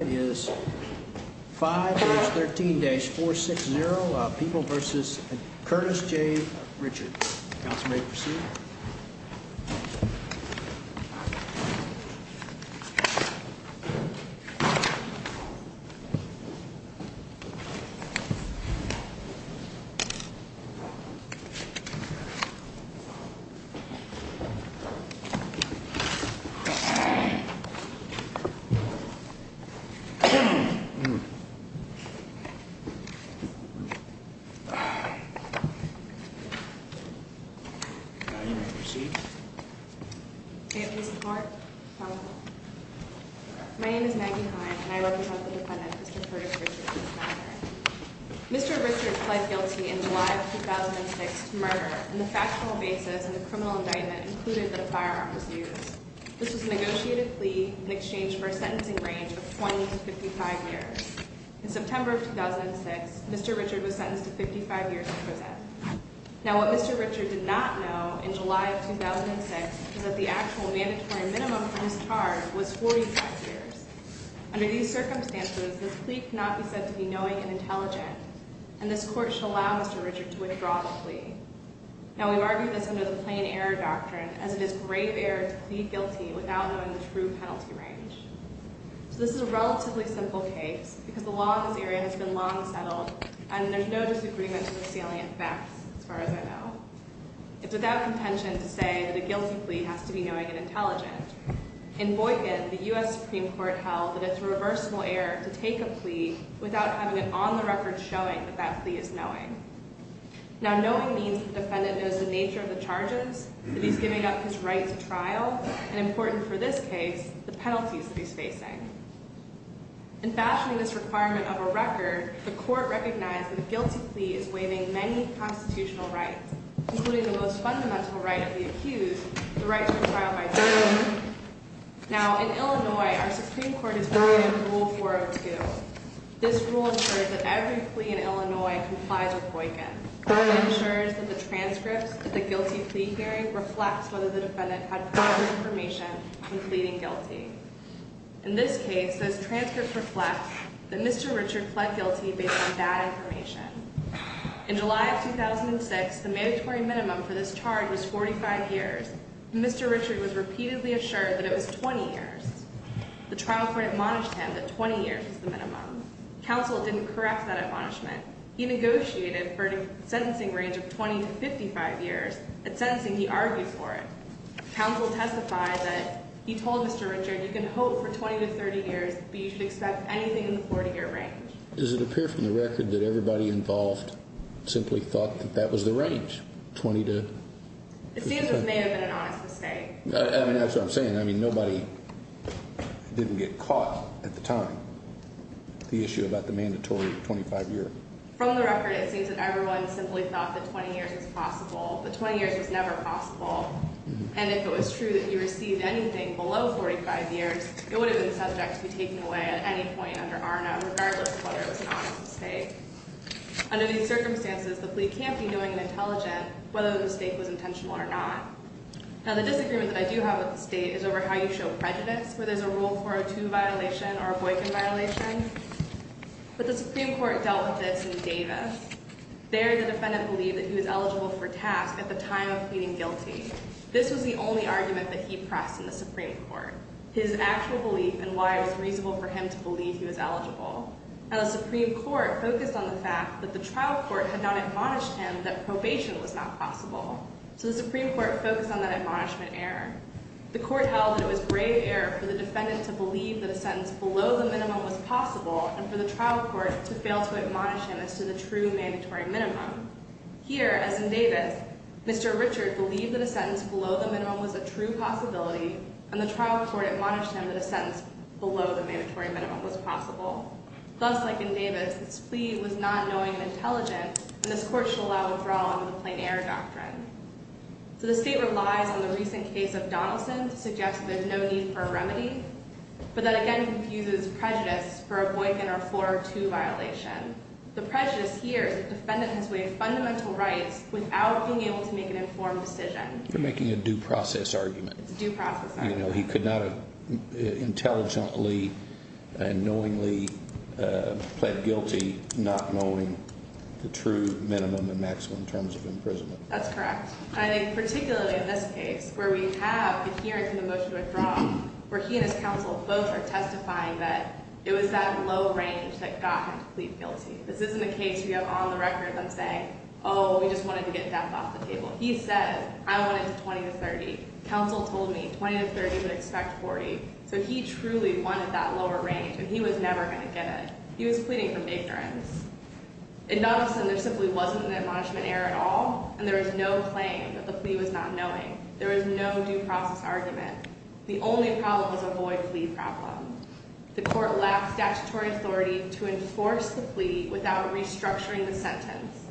is 5-13-460 People v. Curtis J. Richard. Council may proceed. My name is Maggie Heine and I represent the defendant, Mr. Curtis Richard, in this matter. Mr. Richard pled guilty in July of 2006 to murder, and the factual basis in the criminal indictment included that a firearm was used. This was a negotiated plea in exchange for a sentencing range of 20 to 55 years. In September of 2006, Mr. Richard was sentenced to 55 years in prison. Now, what Mr. Richard did not know in July of 2006 is that the actual mandatory minimum for this charge was 45 years. Under these circumstances, this plea cannot be said to be knowing and intelligent, and this court should allow Mr. Richard to withdraw the plea. Now, we argue this under the plain error doctrine, as it is grave error to plead guilty without knowing the true penalty range. So this is a relatively simple case, because the law in this area has been long settled, and there's no disagreement to the salient facts, as far as I know. It's without contention to say that a guilty plea has to be knowing and intelligent. In Boykin, the U.S. Supreme Court held that it's reversible error to take a plea without having it on the record showing that that plea is knowing. Now, knowing means the defendant knows the nature of the charges, that he's giving up his right to trial, and important for this case, the penalties that he's facing. In fashioning this requirement of a record, the court recognized that a guilty plea is waiving many constitutional rights, including the most fundamental right of the accused, the right to a trial by jury. Now, in Illinois, our Supreme Court has brought in Rule 402. This rule ensures that every plea in Illinois complies with Boykin. It ensures that the transcripts of the guilty plea hearing reflect whether the defendant had previous information in pleading guilty. In this case, those transcripts reflect that Mr. Richard pled guilty based on that information. In July of 2006, the mandatory minimum for this charge was 45 years. Mr. Richard was repeatedly assured that it was 20 years. The trial court admonished him that 20 years was the minimum. Counsel didn't correct that admonishment. He negotiated for a sentencing range of 20 to 55 years. At sentencing, he argued for it. Counsel testified that he told Mr. Richard, you can hope for 20 to 30 years, but you should expect anything in the 40-year range. Does it appear from the record that everybody involved simply thought that that was the range, 20 to 50? It seems this may have been an honest mistake. I mean, that's what I'm saying. I mean, nobody didn't get caught at the time, the issue about the mandatory 25-year. From the record, it seems that everyone simply thought that 20 years was possible. But 20 years was never possible. And if it was true that you received anything below 45 years, it would have been subject to be taken away at any point under our name, regardless of whether it was an honest mistake. Under these circumstances, the plea can't be knowing and intelligent whether the mistake was intentional or not. Now, the disagreement that I do have with the state is over how you show prejudice, where there's a Rule 402 violation or a Boykin violation. But the Supreme Court dealt with this in Davis. There, the defendant believed that he was eligible for task at the time of pleading guilty. This was the only argument that he pressed in the Supreme Court, his actual belief and why it was reasonable for him to believe he was eligible. Now, the Supreme Court focused on the fact that the trial court had not admonished him that probation was not possible. So the Supreme Court focused on that admonishment error. The court held that it was grave error for the defendant to believe that a sentence below the minimum was possible and for the trial court to fail to admonish him as to the true mandatory minimum. Here, as in Davis, Mr. Richard believed that a sentence below the minimum was a true possibility, and the trial court admonished him that a sentence below the mandatory minimum was possible. Thus, like in Davis, this plea was not knowing and intelligent, and this court should allow withdrawal under the plain error doctrine. So the state relies on the recent case of Donaldson to suggest that there's no need for a remedy, but that again confuses prejudice for a Boykin or 402 violation. The prejudice here is that the defendant has waived fundamental rights without being able to make an informed decision. They're making a due process argument. It's a due process argument. He could not have intelligently and knowingly pled guilty, not knowing the true minimum and maximum terms of imprisonment. That's correct. I think particularly in this case where we have adherence to the motion to withdraw, where he and his counsel both are testifying that it was that low range that got him to plead guilty. This isn't a case where you have on the record them saying, oh, we just wanted to get death off the table. He said, I want it to 20 to 30. Counsel told me 20 to 30 would expect 40. So he truly wanted that lower range, and he was never going to get it. He was pleading from ignorance. In Donaldson, there simply wasn't an admonishment error at all, and there was no claim that the plea was not knowing. There was no due process argument. The only problem was a void plea problem. The court lacked statutory authority to enforce the plea without restructuring the sentence.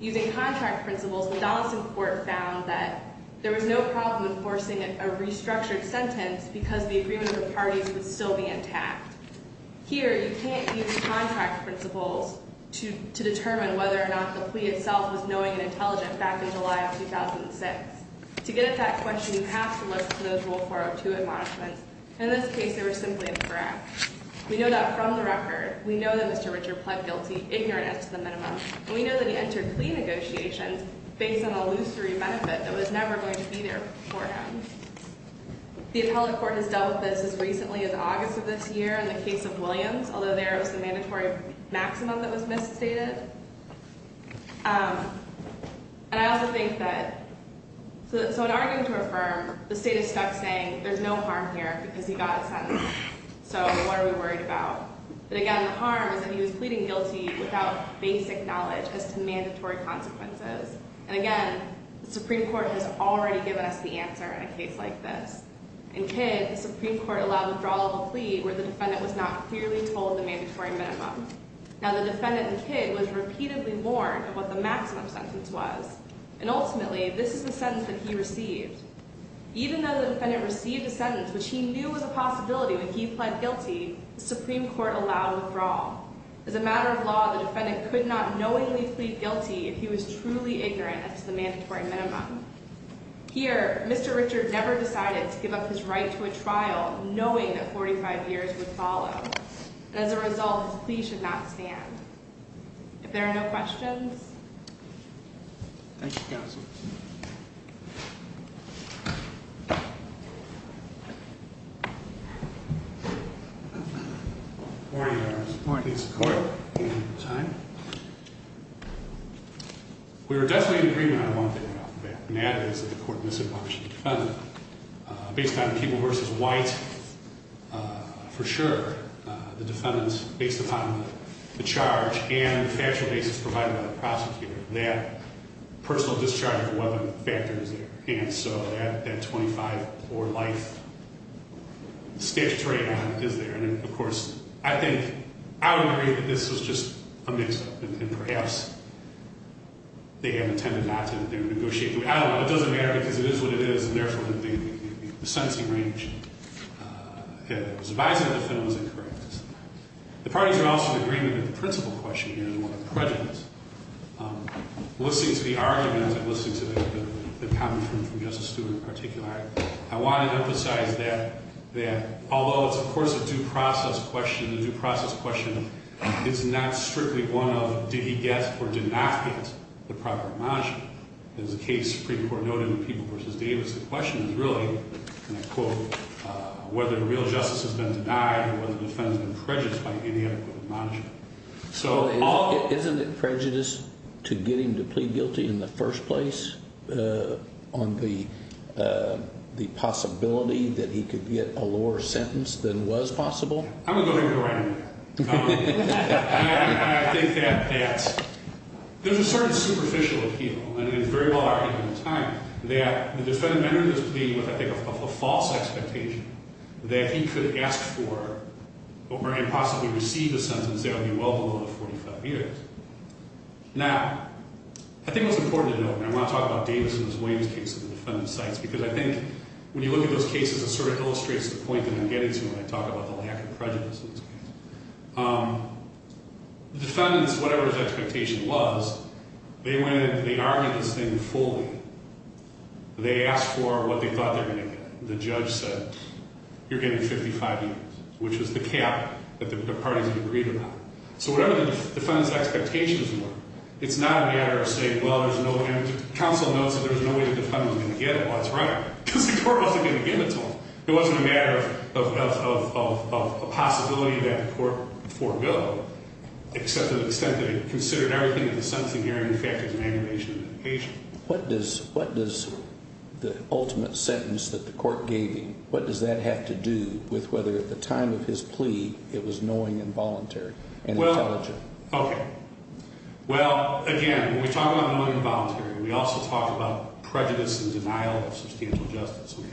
Using contract principles, the Donaldson court found that there was no problem enforcing a restructured sentence because the agreement of the parties would still be intact. Here, you can't use contract principles to determine whether or not the plea itself was knowing and intelligent back in July of 2006. To get at that question, you have to look to those Rule 402 admonishments. In this case, they were simply incorrect. We know that from the record. We know that Mr. Richard pled guilty, ignorance to the minimum. And we know that he entered plea negotiations based on a lusory benefit that was never going to be there for him. The appellate court has dealt with this as recently as August of this year in the case of Williams, although there it was the mandatory maximum that was misstated. And I also think that so in arguing to affirm, the state is stuck saying there's no harm here because he got a sentence. So what are we worried about? But again, the harm is that he was pleading guilty without basic knowledge as to mandatory consequences. And again, the Supreme Court has already given us the answer in a case like this. In Kidd, the Supreme Court allowed withdrawal of a plea where the defendant was not clearly told the mandatory minimum. Now, the defendant in Kidd was repeatedly warned of what the maximum sentence was. And ultimately, this is the sentence that he received. Even though the defendant received a sentence which he knew was a possibility when he pled guilty, the Supreme Court allowed withdrawal. As a matter of law, the defendant could not knowingly plead guilty if he was truly ignorant as to the mandatory minimum. Here, Mr. Richard never decided to give up his right to a trial knowing that 45 years would follow. And as a result, his plea should not stand. If there are no questions. Thank you, counsel. Good morning, Your Honor. Good morning. Please, the court. Time. We were definitely in agreement on one thing off the bat, and that is that the court misinformed the defendant. Based on the people versus white, for sure, the defendant's based upon the charge and the factual basis provided by the prosecutor. That personal discharge of a weapon factor is there. And so, that 25 or life statute right now is there. And, of course, I think I would agree that this was just a mix-up. And perhaps they had intended not to negotiate. I don't know. It doesn't matter because it is what it is. And therefore, the sentencing range that was advised to the defendant was incorrect. The parties are also in agreement that the principal question here is one of prejudice. Listening to the arguments and listening to the comment from Justice Stewart in particular, I want to emphasize that although it's, of course, a due process question, the due process question is not strictly one of did he get or did not get the proper margin. As the case, the Supreme Court noted in the people versus Davis, the question is really, and I quote, whether real justice has been denied or whether the defendant has been prejudiced by any adequate margin. Isn't it prejudice to get him to plead guilty in the first place on the possibility that he could get a lower sentence than was possible? I'm going to go ahead and go right in there. I think that that's – there's a certain superficial appeal, and it was very well argued at the time, that the defendant entered his plea with, I think, a false expectation that he could ask for and possibly receive the sentence that would be well below the 45 years. Now, I think what's important to note, and I want to talk about Davis and his Williams case and the defendant's sites because I think when you look at those cases, it sort of illustrates the point that I'm getting to when I talk about the lack of prejudice in this case. The defendants, whatever his expectation was, they went in and they argued this thing fully. They asked for what they thought they were going to get. The judge said, you're getting 55 years, which was the cap that the parties agreed upon. So whatever the defendant's expectations were, it's not a matter of saying, well, there's no – counsel notes that there was no way the defendant was going to get it while it's running because the court wasn't going to give it to him. It wasn't a matter of a possibility that the court forego, except to the extent that it considered everything in the sentencing hearing, in fact, as an amputation of the patient. What does the ultimate sentence that the court gave him, what does that have to do with whether at the time of his plea, it was knowing and voluntary and intelligent? Okay. Well, again, when we talk about knowing and voluntary, we also talk about prejudice and denial of substantial justice. Okay.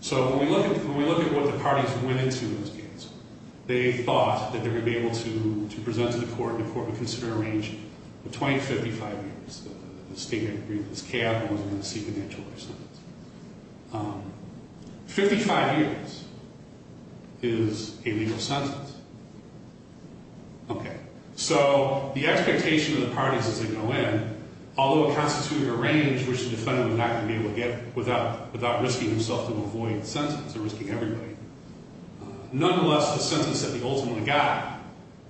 So when we look at what the parties went into in this case, they thought that they were going to be able to present to the court, and the court would consider a range between 55 years, the statement that this cap wasn't going to see financial assistance. Fifty-five years is a legal sentence. Okay. So the expectation of the parties as they go in, although it constitutes a range, which the defendant was not going to be able to get without risking himself to avoid the sentence or risking everybody. Nonetheless, the sentence that the ultimate got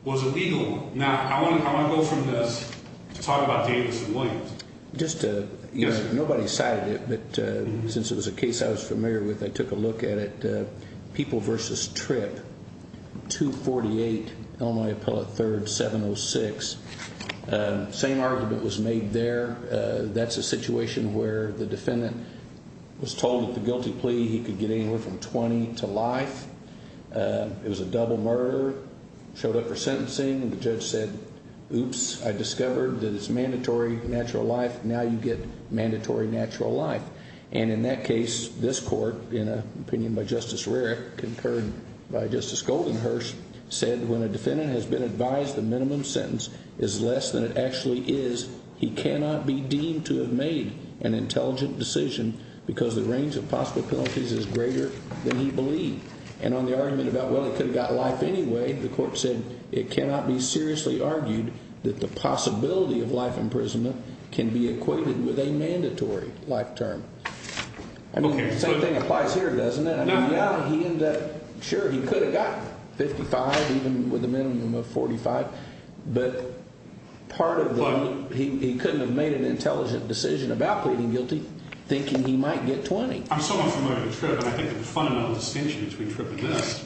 was a legal one. Now, I want to go from this to talk about Davis and Williams. Just to – nobody cited it, but since it was a case I was familiar with, I took a look at it. People v. Tripp, 248, Illinois Appellate 3rd, 706. Same argument was made there. That's a situation where the defendant was told at the guilty plea he could get anywhere from 20 to life. It was a double murder, showed up for sentencing, and the judge said, oops, I discovered that it's mandatory natural life, now you get mandatory natural life. And in that case, this court, in an opinion by Justice Rarick, concurred by Justice Goldenhurst, said when a defendant has been advised the minimum sentence is less than it actually is, he cannot be deemed to have made an intelligent decision because the range of possible penalties is greater than he believed. And on the argument about, well, he could have got life anyway, the court said it cannot be seriously argued that the possibility of life imprisonment can be equated with a mandatory life term. I mean, the same thing applies here, doesn't it? I mean, yeah, he ended up – sure, he could have gotten 55, even with a minimum of 45, but part of the – he couldn't have made an intelligent decision about pleading guilty thinking he might get 20. I'm so unfamiliar with Tripp, and I think the fundamental distinction between Tripp and this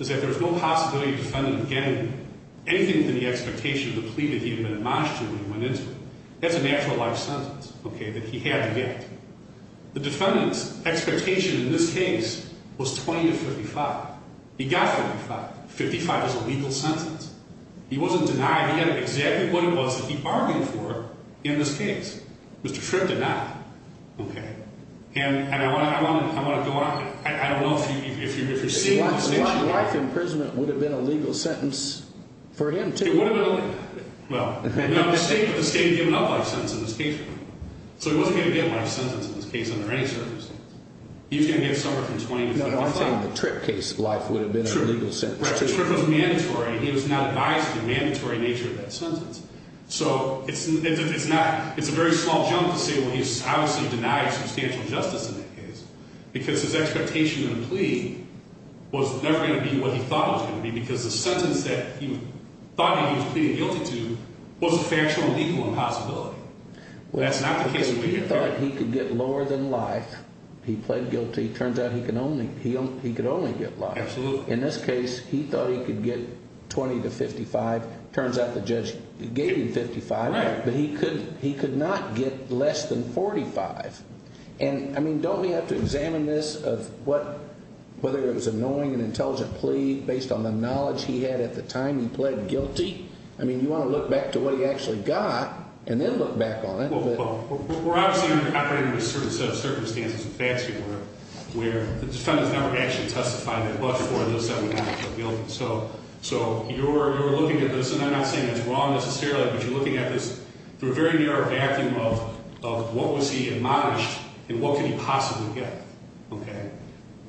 is that there's no possibility of the defendant getting anything within the expectation of the plea that he had been admonished to when he went into it. That's a natural life sentence, okay, that he had to get. The defendant's expectation in this case was 20 to 55. He got 55. 55 is a legal sentence. He wasn't denied. He had exactly what it was that he argued for in this case. Mr. Tripp did not. Okay. And I want to go on. I don't know if you're seeing this. Life imprisonment would have been a legal sentence for him, too. It would have been a legal – well, the state had given up life sentence in this case. So he wasn't going to get a life sentence in this case under any circumstances. He was going to get somewhere from 20 to 55. Well, I'm saying the Tripp case of life would have been a legal sentence, too. Right. Tripp was mandatory. He was not biased in the mandatory nature of that sentence. So it's not – it's a very small jump to say, well, he's obviously denied substantial justice in that case because his expectation of the plea was never going to be what he thought it was going to be because the sentence that he thought he was pleading guilty to was a factual and legal impossibility. That's not the case. Okay. He thought he could get lower than life. He pled guilty. Turns out he could only get life. Absolutely. In this case, he thought he could get 20 to 55. Turns out the judge gave him 55. Right. But he could not get less than 45. And, I mean, don't we have to examine this of what – whether it was a knowing and intelligent plea based on the knowledge he had at the time he pled guilty? I mean, you want to look back to what he actually got and then look back on it. Well, we're obviously operating under a certain set of circumstances and facts here where the defendant's never actually testified that but for those seven hours of guilty. So you're looking at this, and I'm not saying it's wrong necessarily, but you're looking at this through a very narrow vacuum of what was he admonished and what could he possibly get. Okay.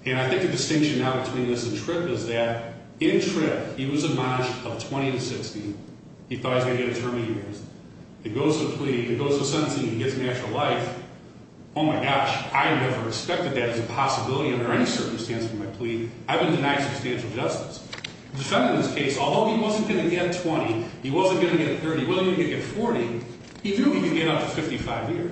And I think the distinction now between this and Tripp is that in Tripp, he was admonished of 20 to 60. He thought he was going to get a term of years. It goes to a plea. It goes to a sentencing. He gets an actual life. Oh, my gosh, I never expected that as a possibility under any circumstance for my plea. I've been denied substantial justice. The defendant in this case, although he wasn't going to get 20, he wasn't going to get 30, he wasn't going to get 40, he knew he could get up to 55 years.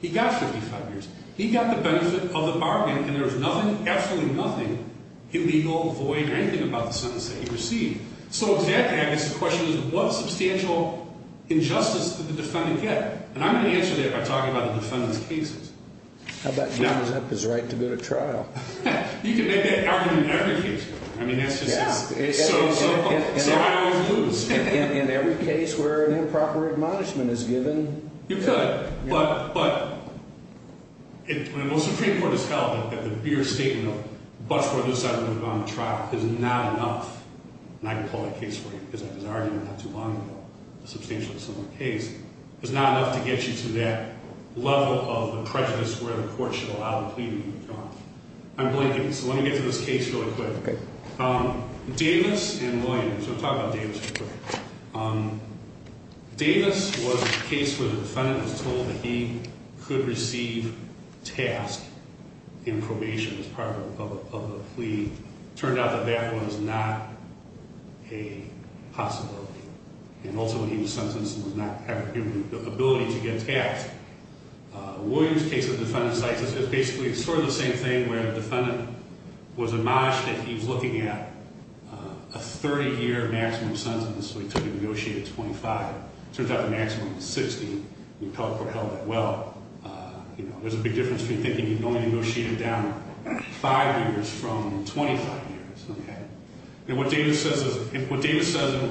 He got 55 years. He got the benefit of the bargain, and there was nothing, absolutely nothing, illegal, void, or anything about the sentence that he received. So, exactly, I guess the question is what substantial injustice did the defendant get? And I'm going to answer that by talking about the defendant's cases. How about John Zappa's right to go to trial? You can make that argument in every case. I mean, that's just so I always lose. In every case where an improper admonishment is given? You could, but when the Supreme Court has held that the mere statement of much more than a settlement on the trial is not enough, and I can pull that case for you because I did an argument not too long ago, a substantially similar case, is not enough to get you to that level of the prejudice where the court should allow the plea to be withdrawn. I'm blanking, so let me get to this case really quick. Davis and Williams. I'm going to talk about Davis real quick. Davis was a case where the defendant was told that he could receive task in probation as part of a plea. It turned out that that was not a possibility. And also he was sentenced and did not have the ability to get a task. Williams' case of defendant's license is basically sort of the same thing where the defendant was admonished that he was looking at a 30-year maximum sentence, so he took a negotiated 25. It turns out the maximum was 60. The appellate court held that well. You know, there's a big difference between thinking you can only negotiate it down five years from 25 years, okay? And what Davis says in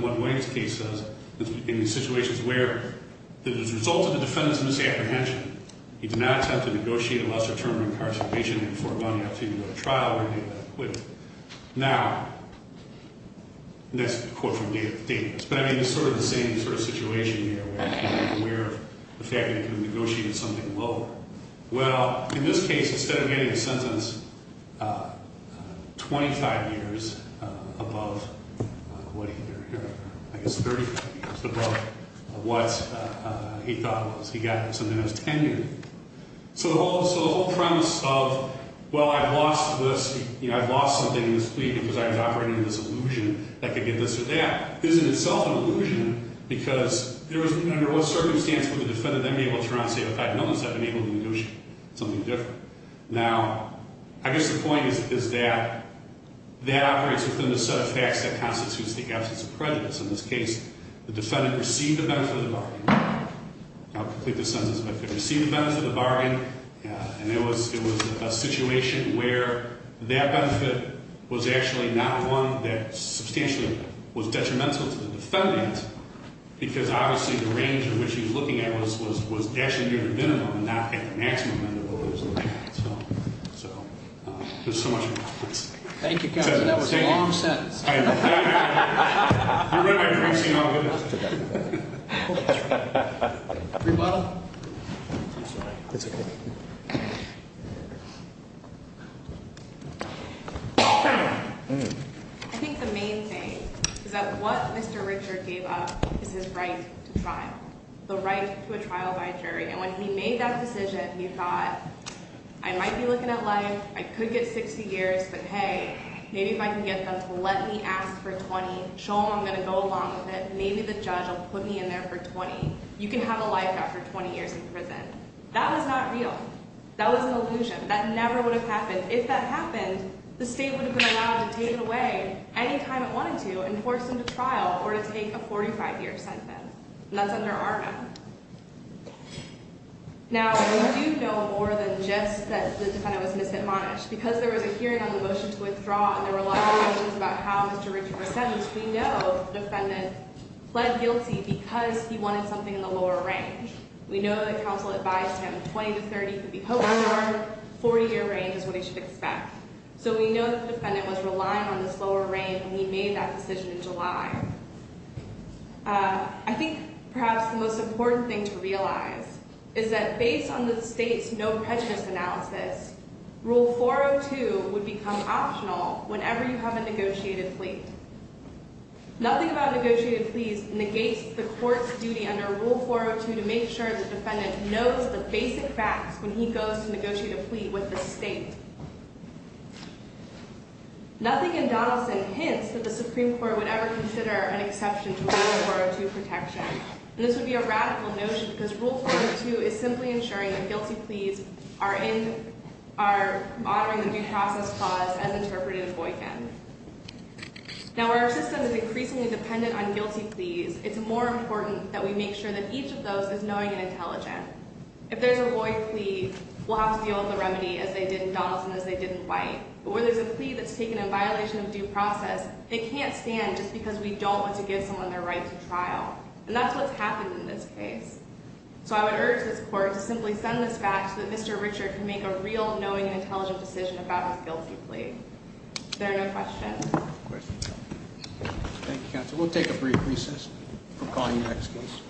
what Williams' case says is in the situations where as a result of the defendant's misapprehension, he did not attempt to negotiate a lesser term of incarceration before going up to a trial where he was acquitted. Now, that's a quote from Davis, but, I mean, it's sort of the same sort of situation here where you're aware of the fact that he could have negotiated something lower. Well, in this case, instead of getting a sentence 25 years above what he heard here, I guess 35 years above what he thought it was, he got something that was 10 years. So the whole premise of, well, I've lost this, you know, I've lost something in this plea because I was operating in this illusion that I could get this or that, is in itself an illusion because under what circumstance would the defendant then be able to turn around and say, okay, I've noticed I've been able to negotiate something different. Now, I guess the point is that that operates within the set of facts that constitutes the absence of prejudice. In this case, the defendant received the benefit of the bargain. I'll complete the sentence. The defendant received the benefit of the bargain, and it was a situation where that benefit was actually not one that substantially was detrimental to the defendant because, obviously, the range in which he was looking at was actually near the minimum, not at the maximum end of what he was looking at. So there's so much more. Thank you, counsel. That was a long sentence. I think the main thing is that what Mr. Richard gave up is his right to trial, the right to a trial by jury. And when he made that decision, he thought, I might be looking at life. I could get 60 years, but, hey, maybe if I can get them to let me ask for 20, show them I'm going to go along with it, maybe the judge will put me in there for 20. You can have a life after 20 years in prison. That was not real. That was an illusion. That never would have happened. If that happened, the state would have been allowed to take it away any time it wanted to and force him to trial or to take a 45-year sentence, and that's under Arnum. Now, we do know more than just that the defendant was misadmonished. Because there was a hearing on the motion to withdraw and there were a lot of questions about how Mr. Richard was sentenced, we know the defendant pled guilty because he wanted something in the lower range. We know that counsel advised him 20 to 30 could be hoped under our 40-year range is what he should expect. So we know that the defendant was relying on this lower range, and he made that decision in July. I think perhaps the most important thing to realize is that based on the state's no prejudice analysis, Rule 402 would become optional whenever you have a negotiated plea. Nothing about negotiated pleas negates the court's duty under Rule 402 to make sure the defendant knows the basic facts when he goes to negotiate a plea with the state. Nothing in Donaldson hints that the Supreme Court would ever consider an exception to Rule 402 protection. And this would be a radical notion because Rule 402 is simply ensuring that guilty pleas are honoring the due process clause as interpreted in Boykin. Now, where our system is increasingly dependent on guilty pleas, it's more important that we make sure that each of those is knowing and intelligent. If there's a Lloyd plea, we'll have to deal with the remedy as they did in Donaldson and as they did in White. But where there's a plea that's taken in violation of due process, they can't stand just because we don't want to give someone their right to trial. And that's what's happened in this case. So I would urge this court to simply send this back so that Mr. Richard can make a real knowing and intelligent decision about his guilty plea. Is there no questions? Questions? Thank you, counsel. We'll take a brief recess. We'll call you next, please.